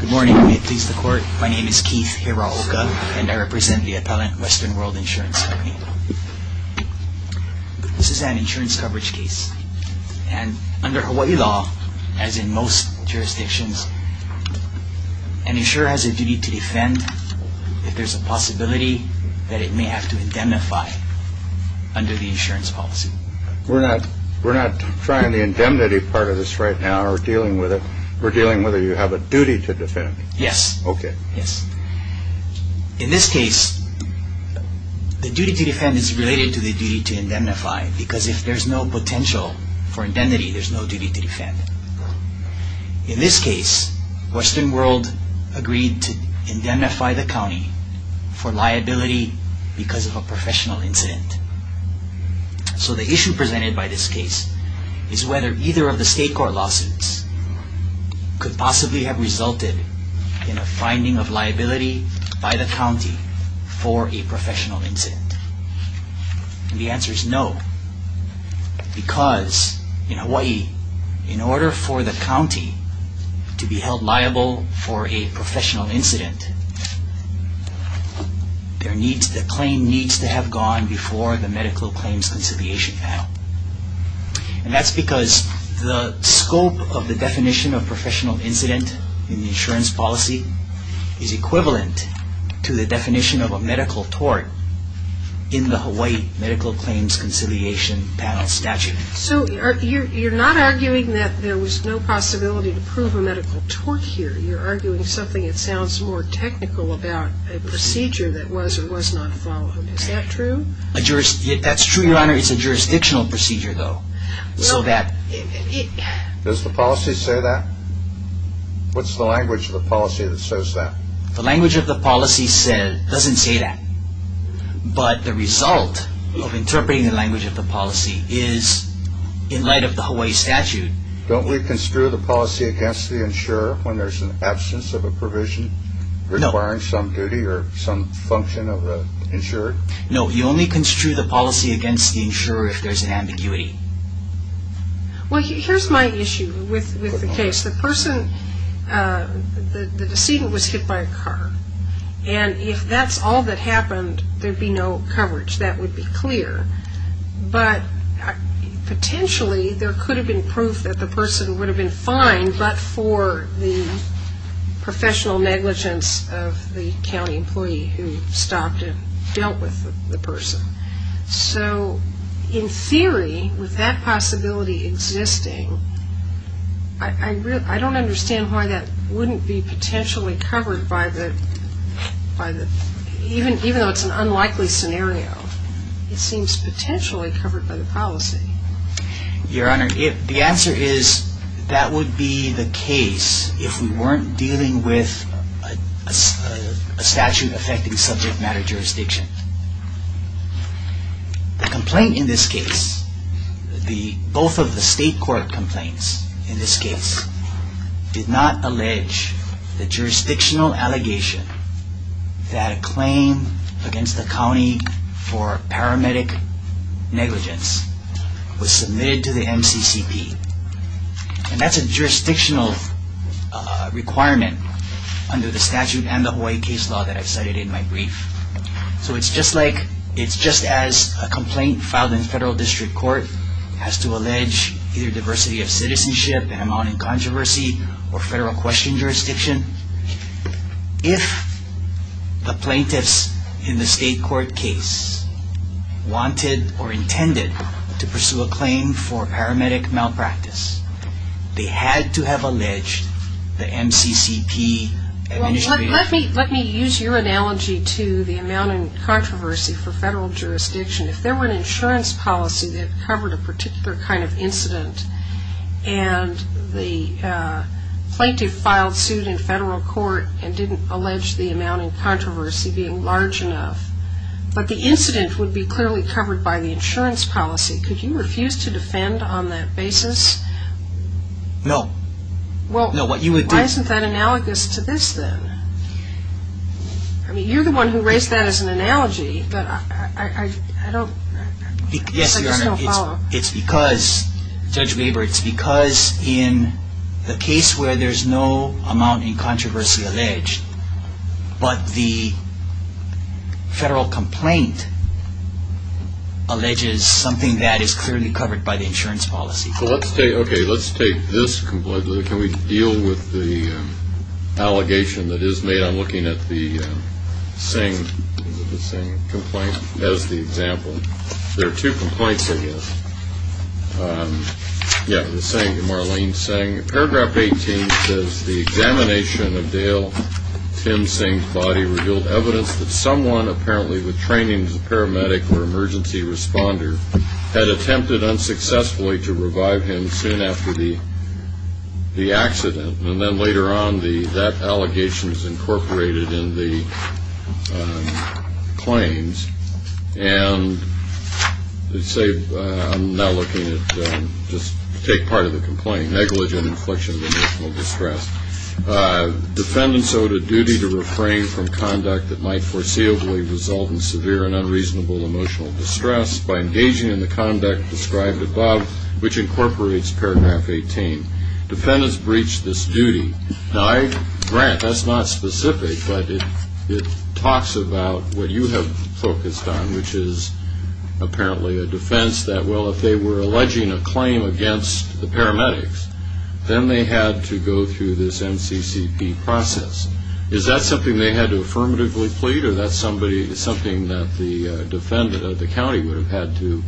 Good morning, may it please the court. My name is Keith Hiraoka and I represent the appellant Western World Insurance Company. This is an insurance coverage case and under Hawaii law, as in most jurisdictions, an insurer has a duty to defend if there's a possibility that it may have to indemnify under the insurance policy. We're not we're not trying the indemnity part of this right now, we're dealing with it, we're dealing whether you have a duty to defend. Yes. Okay. Yes. In this case, the duty to defend is related to the duty to indemnify because if there's no potential for indemnity, there's no duty to defend. In this case, Western World agreed to indemnify the county for liability because of a professional incident. So the issue presented by this case is whether either of the state court lawsuits could possibly have resulted in a finding of liability by the county for a professional incident. And the answer is no, because in Hawaii, in order for the county to be held liable for a professional incident, the claim needs to have gone before the medical claims conciliation panel. And that's because the scope of the definition of professional incident in the insurance policy is equivalent to the definition of a medical tort in the Hawaii medical claims conciliation panel statute. So you're not arguing that there was no possibility to prove a medical tort here. You're arguing something that sounds more technical about a procedure that was or was not followed. Is that true? That's true, Your Honor. It's a jurisdictional procedure, though. Does the policy say that? What's the language of the policy that says that? The language of the policy doesn't say that. But the result of interpreting the language of the policy is in light of the Hawaii statute. Don't we construe the policy against the insurer when there's an absence of a function of an insurer? No, we only construe the policy against the insurer if there's an ambiguity. Well, here's my issue with the case. The person, the decedent was hit by a car. And if that's all that happened, there'd be no coverage. That would be clear. But potentially, there could have been proof that the person would have been fined, but for the professional negligence of the county employee who stopped and dealt with the person. So in theory, with that possibility existing, I don't understand why that wouldn't be potentially covered by the, even though it's an unlikely scenario, it seems potentially covered by the policy. Your Honor, the answer is that would be the case if we weren't dealing with a statute affecting subject matter jurisdiction. The complaint in this case, both of the state court complaints in this case, did not allege the jurisdictional allegation that a claim against the county for paramedic negligence was submitted to the MCCP. And that's a jurisdictional requirement under the statute and the Hawaii case law that I've cited in my brief. So it's just like, it's just as a complaint filed in federal district court has to allege either diversity of citizenship and amounting controversy or federal question jurisdiction. If the plaintiffs in the state court case wanted or intended to pursue a claim for paramedic malpractice, they had to have alleged the MCCP. Let me use your analogy to the amounting controversy for federal jurisdiction. If there were an insurance policy that covered a particular kind of incident and the plaintiff filed suit in federal court and didn't allege the amounting controversy being large enough, but the incident would be clearly covered by the insurance policy, could you refuse to defend on that basis? No. Well, why isn't that analogous to this then? I mean, you're the one who raised that as an analogy, but I just don't follow. Yes, Your Honor. It's because, Judge Weber, it's because in the case where there's no amounting controversy alleged, but the federal complaint alleges something that is clearly covered by the insurance policy. So let's take, okay, let's take this complaint. Can we deal with the allegation that is made on looking at the same complaint as the example? There are two complaints I guess. Yeah, the same, Marlene Singh. Paragraph 18 says, the examination of Dale Tim Singh's body revealed evidence that someone, apparently with training as a paramedic or emergency responder, had attempted unsuccessfully to revive him soon after the accident. And then later on, that allegation is incorporated in the claims. And let's say, I'm now looking at, just take part of the complaint, negligent inflection of emotional distress. Defendants owed a duty to refrain from conduct that might foreseeably result in severe and unreasonable emotional distress by engaging in the conduct described above, which incorporates paragraph 18. Defendants breached this duty. Now, Grant, that's not specific, but it talks about what you have focused on, which is apparently a defense that, well, if they were alleging a claim against the paramedics, then they had to go through this NCCP process. Is that something they had to affirmatively plead, or that's somebody, something that the defendant of the county would have had to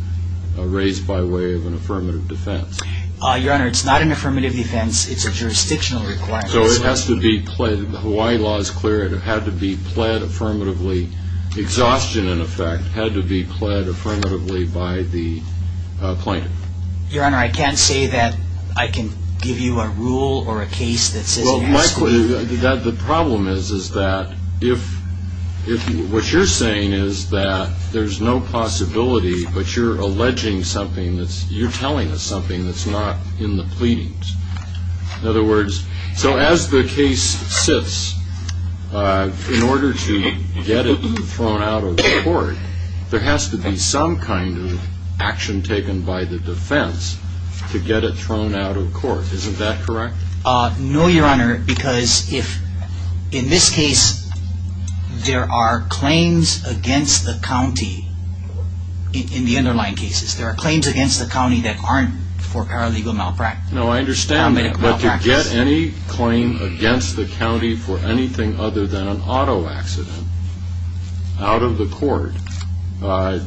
raise by way of an affirmative defense? Your Honor, it's not an affirmative defense. It's a jurisdictional requirement. So it has to be pled, the Hawaii law is clear, it had to be pled affirmatively. Exhaustion, in effect, had to be pled affirmatively by the plaintiff. Your Honor, I can't say that I can give you a rule or a case that says it has to be. Well, my question, the problem is, is that if, if what you're saying is that there's no possibility, but you're alleging something that's, you're telling us something that's not in the pleadings. In other words, so as the case sits, in order to get it thrown out of court, there has to be some kind of action taken by the defense to get it thrown out of court. Isn't that correct? No, Your Honor, because if, in this case, there are claims against the county, in the underlying cases, there are claims against the county that aren't for paralegal malpractice. No, I understand that, but to get any claim against the county for anything other than an auto accident out of the court,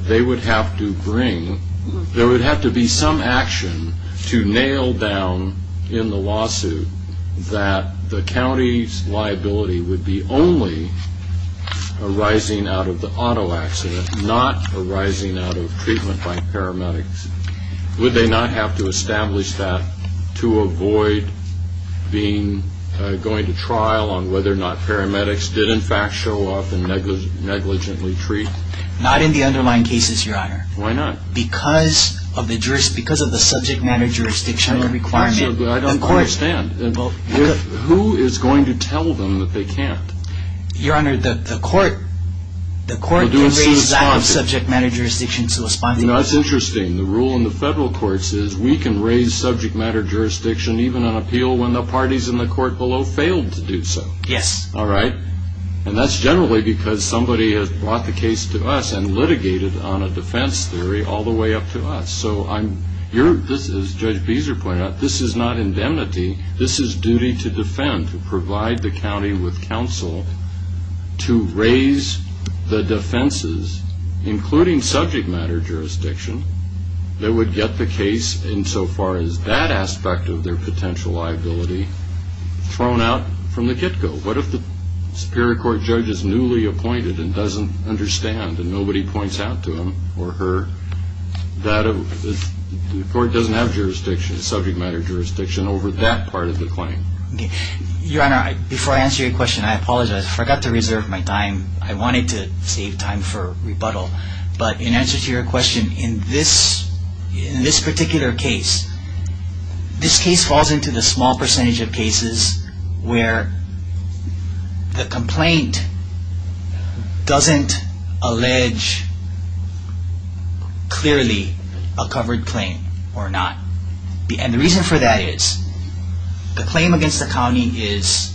they would have to bring, there would have to be some action to nail down in the lawsuit that the county's liability would be only arising out of the auto accident, not arising out of treatment by paramedics. Would they not have to establish that to avoid being, going to trial on whether or not paramedics did, in fact, show up and negligently treat? Not in the underlying cases, Your Honor. Why not? Because of the jurisdiction, because of the subject matter jurisdiction requirement in court. I understand, but who is going to tell them that they can't? Your Honor, the court, the court can raise subject matter jurisdiction to respond. That's interesting, the rule in the federal courts is we can raise subject matter jurisdiction, even on appeal, when the parties in the court below failed to do so. Yes. All right, and that's generally because somebody has brought the case to us and litigated on a defense theory all the way up to us. So, as Judge Beeser pointed out, this is not indemnity, this is duty to defend, to provide the county with counsel to raise the defenses, including subject matter jurisdiction, that would get the case insofar as that aspect of their potential liability thrown out from the get-go. What if the Superior Court judge is newly appointed and doesn't understand and nobody points out to him or her that the court doesn't have jurisdiction, subject matter jurisdiction over that part of the claim? Your Honor, before I answer your question, I apologize, I forgot to reserve my time. I wanted to save time for rebuttal. But in answer to your question, in this particular case, this case falls into the small percentage of cases where the complaint doesn't allege clearly a covered claim or not. And the reason for that is the claim against the county is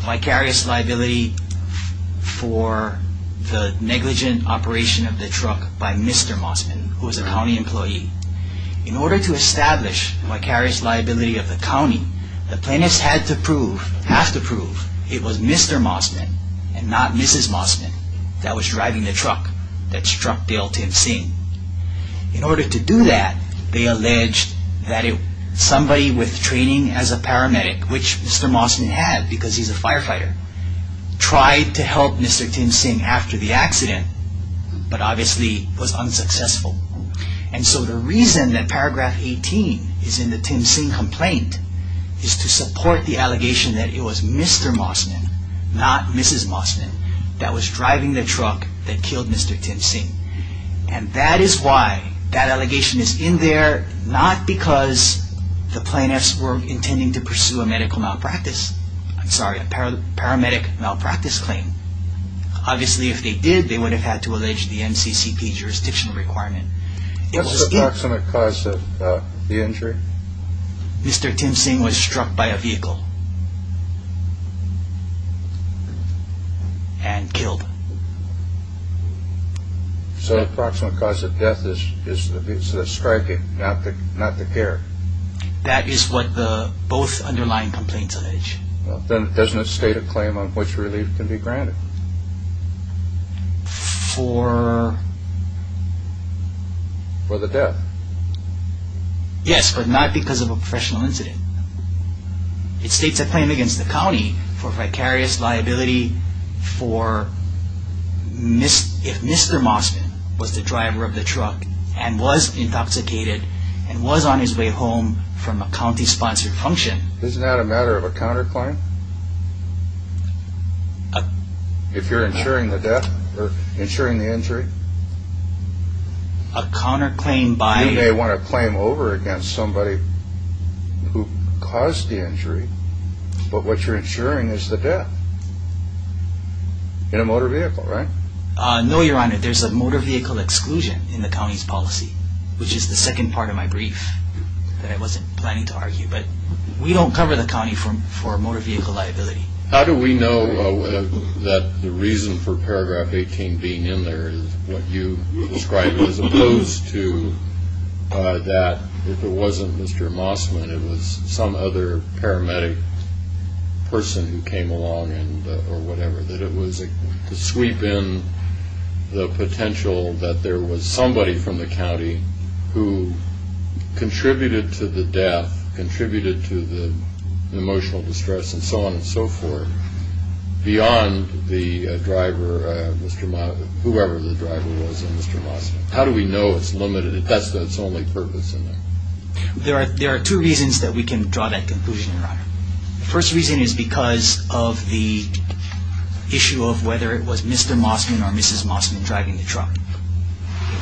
vicarious liability for the negligent operation of the truck by Mr. Mossman, who is a county employee. In order to establish vicarious liability of the county, the plaintiffs had to prove, have to prove, it was Mr. Mossman and not Mrs. Mossman that was driving the truck that struck Dale Tim Singh. In order to do that, they alleged that somebody with training as a paramedic, which Mr. Mossman had because he's a firefighter, tried to help Mr. Tim Singh after the accident, but obviously was unsuccessful. And so the reason that paragraph 18 is in the Tim Singh complaint is to support the allegation that it was Mr. Mossman, not Mrs. Mossman, that was driving the truck that killed Mr. Tim Singh. And that is why that allegation is in there, not because the plaintiffs were intending to pursue a medical malpractice, I'm sorry, a paramedic malpractice claim. Obviously, if they did, they would have had to allege the MCCP jurisdiction requirement. What's the approximate cause of the injury? Mr. Tim Singh was struck by a vehicle. And killed. So the approximate cause of death is the striking, not the care. That is what the both underlying complaints allege. Then doesn't it state a claim on which relief can be granted? For... For the death? Yes, but not because of a professional incident. It states a claim against the county for vicarious liability for... if Mr. Mossman was the driver of the truck and was intoxicated and was on his way home from a county-sponsored function. Isn't that a matter of a counterclaim? A... If you're insuring the death or insuring the injury? A counterclaim by... You may want to claim over against somebody who caused the injury, but what you're insuring is the death. In a motor vehicle, right? No, Your Honor, there's a motor vehicle exclusion in the county's policy, which is the second part of my brief that I wasn't planning to argue, but we don't cover the county for motor vehicle liability. How do we know that the reason for paragraph 18 being in there is what you described as opposed to that if it wasn't Mr. Mossman, it was some other paramedic person who came along or whatever, that it was to sweep in the potential that there was somebody from the county who contributed to the death, contributed to the emotional distress, and so on and so forth, beyond the driver, Mr. Mossman, whoever the driver was in Mr. Mossman. How do we know it's limited if that's its only purpose in there? There are two reasons that we can draw that conclusion, Your Honor. The first reason is because of the issue of whether it was Mr. Mossman or Mrs. Mossman driving the truck.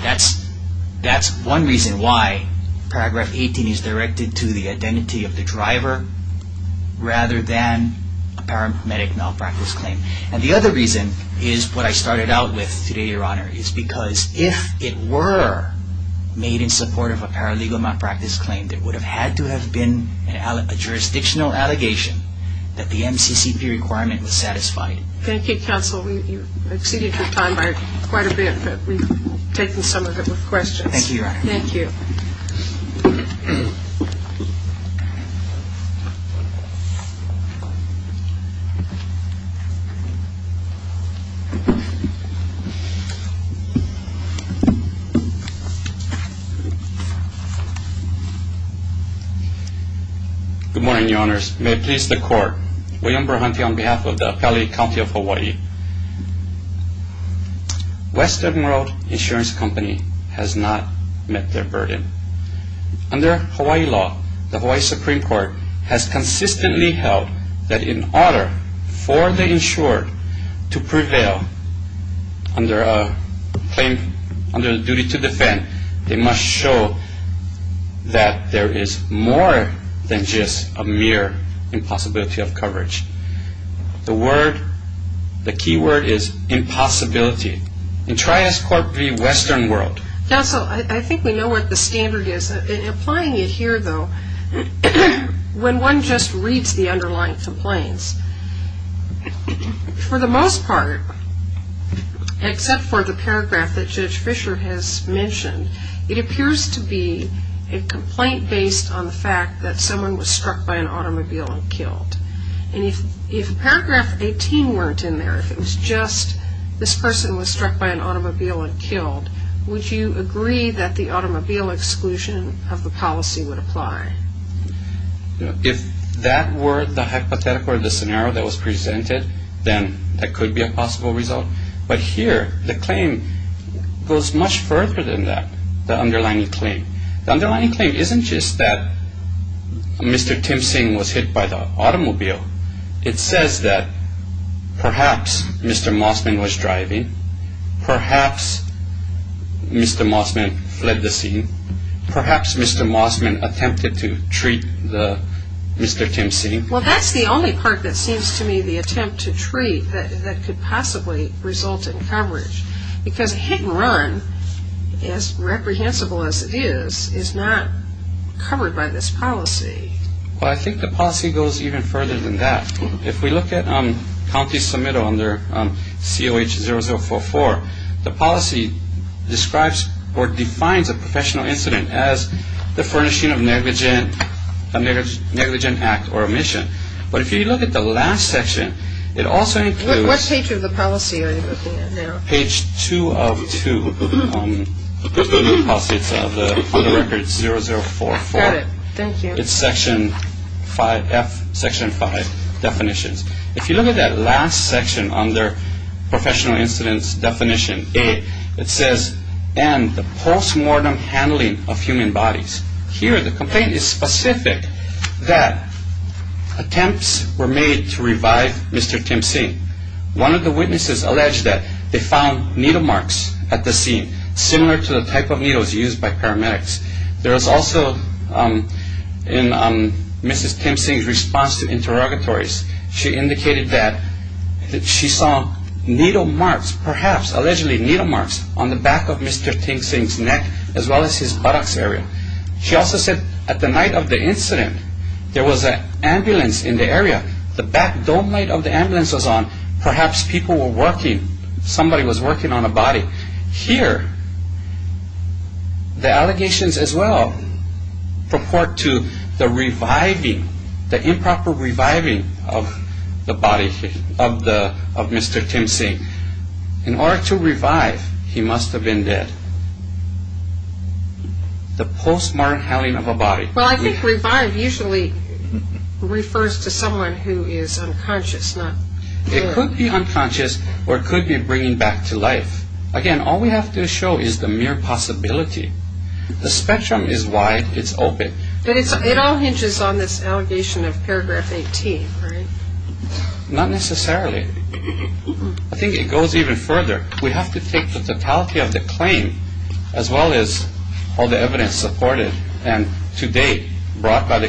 That's one reason why paragraph 18 is directed to the identity of the driver rather than a paramedic malpractice claim. And the other reason is what I started out with today, Your Honor, is because if it were made in support of a paralegal malpractice claim, there would have had to have been a jurisdictional allegation that the MCCP requirement was satisfied. Thank you, Counsel. We've exceeded your time by quite a bit, but we've taken some of it with questions. Thank you, Your Honor. Thank you. Good morning, Your Honors. May it please the Court, William Burhanty on behalf of the Appellate County of Hawaii. Western World Insurance Company has not met their burden. Under Hawaii law, the Hawaii Supreme Court has consistently held that in order for the insured to prevail under the duty to defend, they must show that there is more than just a mere impossibility of coverage. The word, the key word is impossibility. And try as court be Western World. Counsel, I think we know what the standard is. In applying it here, though, when one just reads the underlying complaints, for the most part, except for the paragraph that Judge Fischer has mentioned, it appears to be a complaint based on the fact that someone was struck by an automobile and killed. And if paragraph 18 weren't in there, if it was just this person was struck by an automobile and killed, would you agree that the automobile exclusion of the policy would apply? If that were the hypothetical or the scenario that was presented, then that could be a possible result. But here, the claim goes much further than that, the underlying claim. The underlying claim isn't just that Mr. Tim Singh was hit by the automobile. It says that perhaps Mr. Mossman was driving. Perhaps Mr. Mossman fled the scene. Perhaps Mr. Mossman attempted to treat Mr. Tim Singh. Well, that's the only part that seems to me the attempt to treat that could possibly result in coverage. Because hit and run, as reprehensible as it is, is not covered by this policy. Well, I think the policy goes even further than that. If we look at county submittal under COH-0044, the policy describes or defines a professional incident as the furnishing of negligent act or omission. But if you look at the last section, it also includes... What page of the policy are you looking at now? Page 2 of 2 of the policy. It's on the record 0044. Got it. Thank you. It's Section 5, F, Section 5 definitions. If you look at that last section under professional incidents definition 8, it says, and the post-mortem handling of human bodies. Here, the complaint is specific that attempts were made to revive Mr. Tim Singh. One of the witnesses alleged that they found needle marks at the scene, similar to the type of needles used by paramedics. There was also, in Mrs. Tim Singh's response to interrogatories, she indicated that she saw needle marks, perhaps allegedly needle marks, on the back of Mr. Tim Singh's neck, as well as his buttocks area. She also said at the night of the incident, there was an ambulance in the area. The back dome light of the ambulance was on. Here, the allegations as well purport to the reviving, the improper reviving of the body of Mr. Tim Singh. In order to revive, he must have been dead. The post-mortem handling of a body. Well, I think revive usually refers to someone who is unconscious, not dead. It could be unconscious, or it could be bringing back to life. Again, all we have to show is the mere possibility. The spectrum is wide, it's open. But it all hinges on this allegation of paragraph 18, right? Not necessarily. I think it goes even further. We have to take the totality of the claim, as well as all the evidence supported, and to date brought by the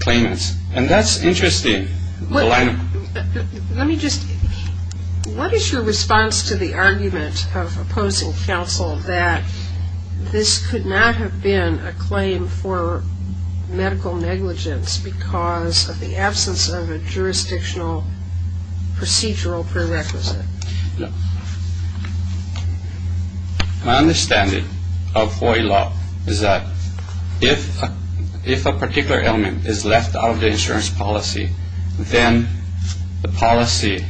claimants. And that's interesting. Let me just, what is your response to the argument of opposing counsel that this could not have been a claim for medical negligence because of the absence of a jurisdictional procedural prerequisite? My understanding of Hawaii law is that if a particular element is left out of the insurance policy, then the policy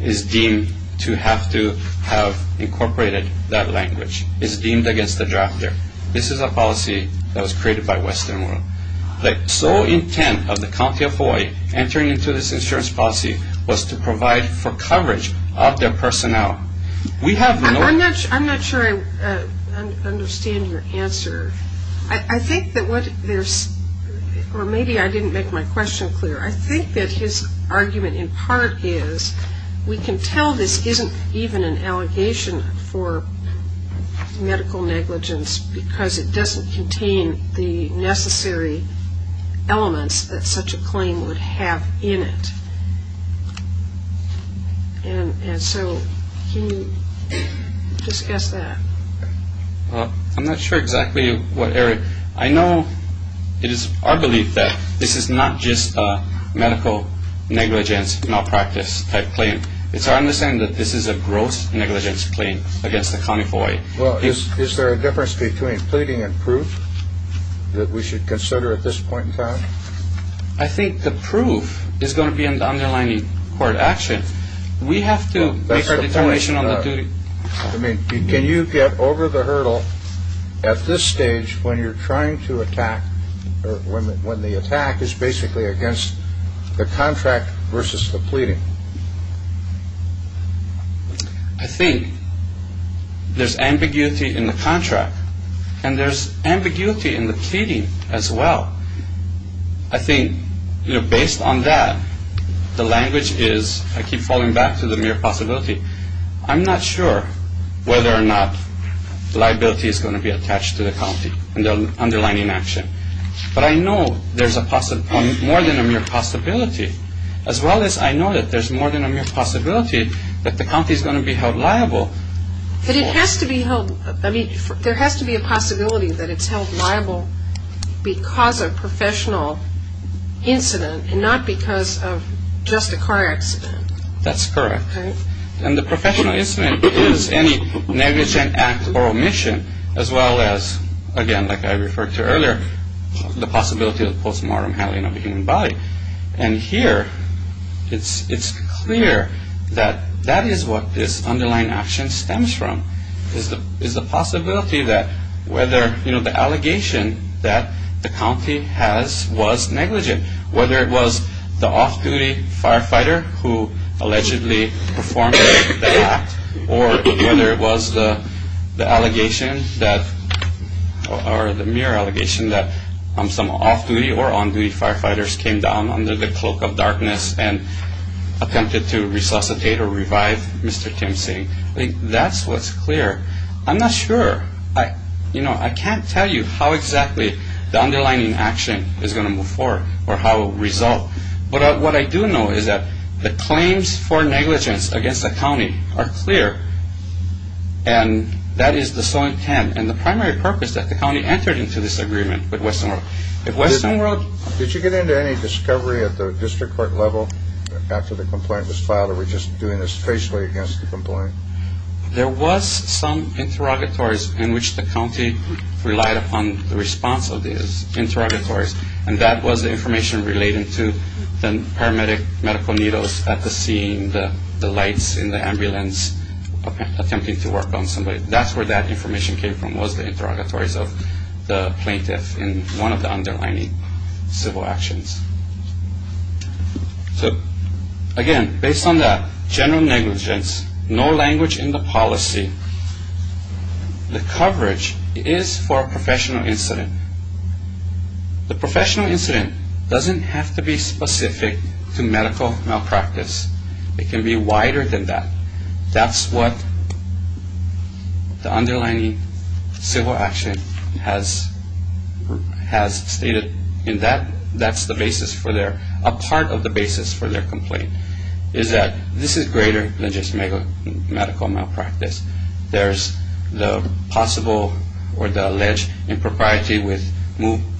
is deemed to have to have incorporated that language. It's deemed against the drafter. This is a policy that was created by Western World. The sole intent of the county of Hawaii entering into this insurance policy was to provide for coverage of their personnel. I'm not sure I understand your answer. I think that what there's, or maybe I didn't make my question clear. I think that his argument in part is, we can tell this isn't even an allegation for medical negligence because it doesn't contain the necessary elements that such a claim would have in it. And so can you discuss that? I'm not sure exactly what area. I know it is our belief that this is not just a medical negligence malpractice type claim. It's our understanding that this is a gross negligence claim against the county of Hawaii. Well, is there a difference between pleading and proof that we should consider at this point in time? I think the proof is going to be in the underlying court action. We have to make a determination on the duty. I mean, can you get over the hurdle at this stage when you're trying to attack, when the attack is basically against the contract versus the pleading? I think there's ambiguity in the contract and there's ambiguity in the pleading as well. I think, you know, based on that, the language is, I keep falling back to the mere possibility. I'm not sure whether or not liability is going to be attached to the county and the underlying action. But I know there's more than a mere possibility. As well as I know that there's more than a mere possibility that the county is going to be held liable. But it has to be held, I mean, there has to be a possibility that it's held liable because of professional incident and not because of just a car accident. That's correct. And the professional incident is any negligent act or omission as well as, again, like I referred to earlier, the possibility of postmortem handling of a human body. And here it's clear that that is what this underlying action stems from, is the possibility that whether, you know, the allegation that the county has was negligent, whether it was the off-duty firefighter who allegedly performed the act or whether it was the allegation that, or the mere allegation that some off-duty or on-duty firefighters came down under the cloak of darkness and attempted to resuscitate or revive Mr. Tim Singh. That's what's clear. I'm not sure. You know, I can't tell you how exactly the underlying action is going to move forward or how it will result. But what I do know is that the claims for negligence against the county are clear. And that is the sole intent and the primary purpose that the county entered into this agreement with Western World. Did you get into any discovery at the district court level after the complaint was filed, or were you just doing this facially against the complainant? There was some interrogatories in which the county relied upon the response of these interrogatories, and that was the information relating to the paramedic medical needles at the scene, the lights in the ambulance attempting to work on somebody. That's where that information came from, was the interrogatories of the plaintiff in one of the underlying civil actions. So, again, based on that, general negligence, no language in the policy. The coverage is for a professional incident. The professional incident doesn't have to be specific to medical malpractice. It can be wider than that. That's what the underlying civil action has stated. And that's the basis for their, a part of the basis for their complaint, is that this is greater than just medical malpractice. There's the possible or the alleged impropriety with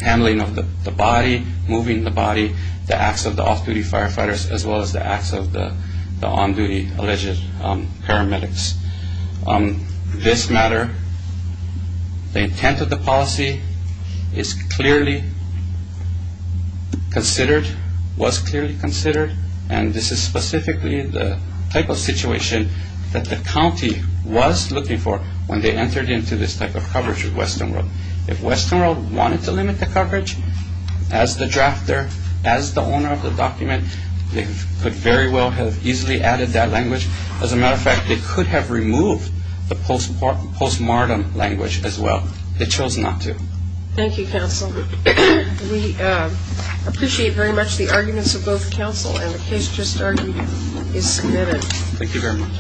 handling of the body, moving the body, the acts of the off-duty firefighters, as well as the acts of the on-duty alleged paramedics. This matter, the intent of the policy is clearly considered, was clearly considered, and this is specifically the type of situation that the county was looking for when they entered into this type of coverage with Western World. If Western World wanted to limit the coverage, as the drafter, as the owner of the document, they could very well have easily added that language. As a matter of fact, they could have removed the postmortem language as well. They chose not to. Thank you, counsel. We appreciate very much the arguments of both counsel, and the case just argued is submitted. Thank you very much.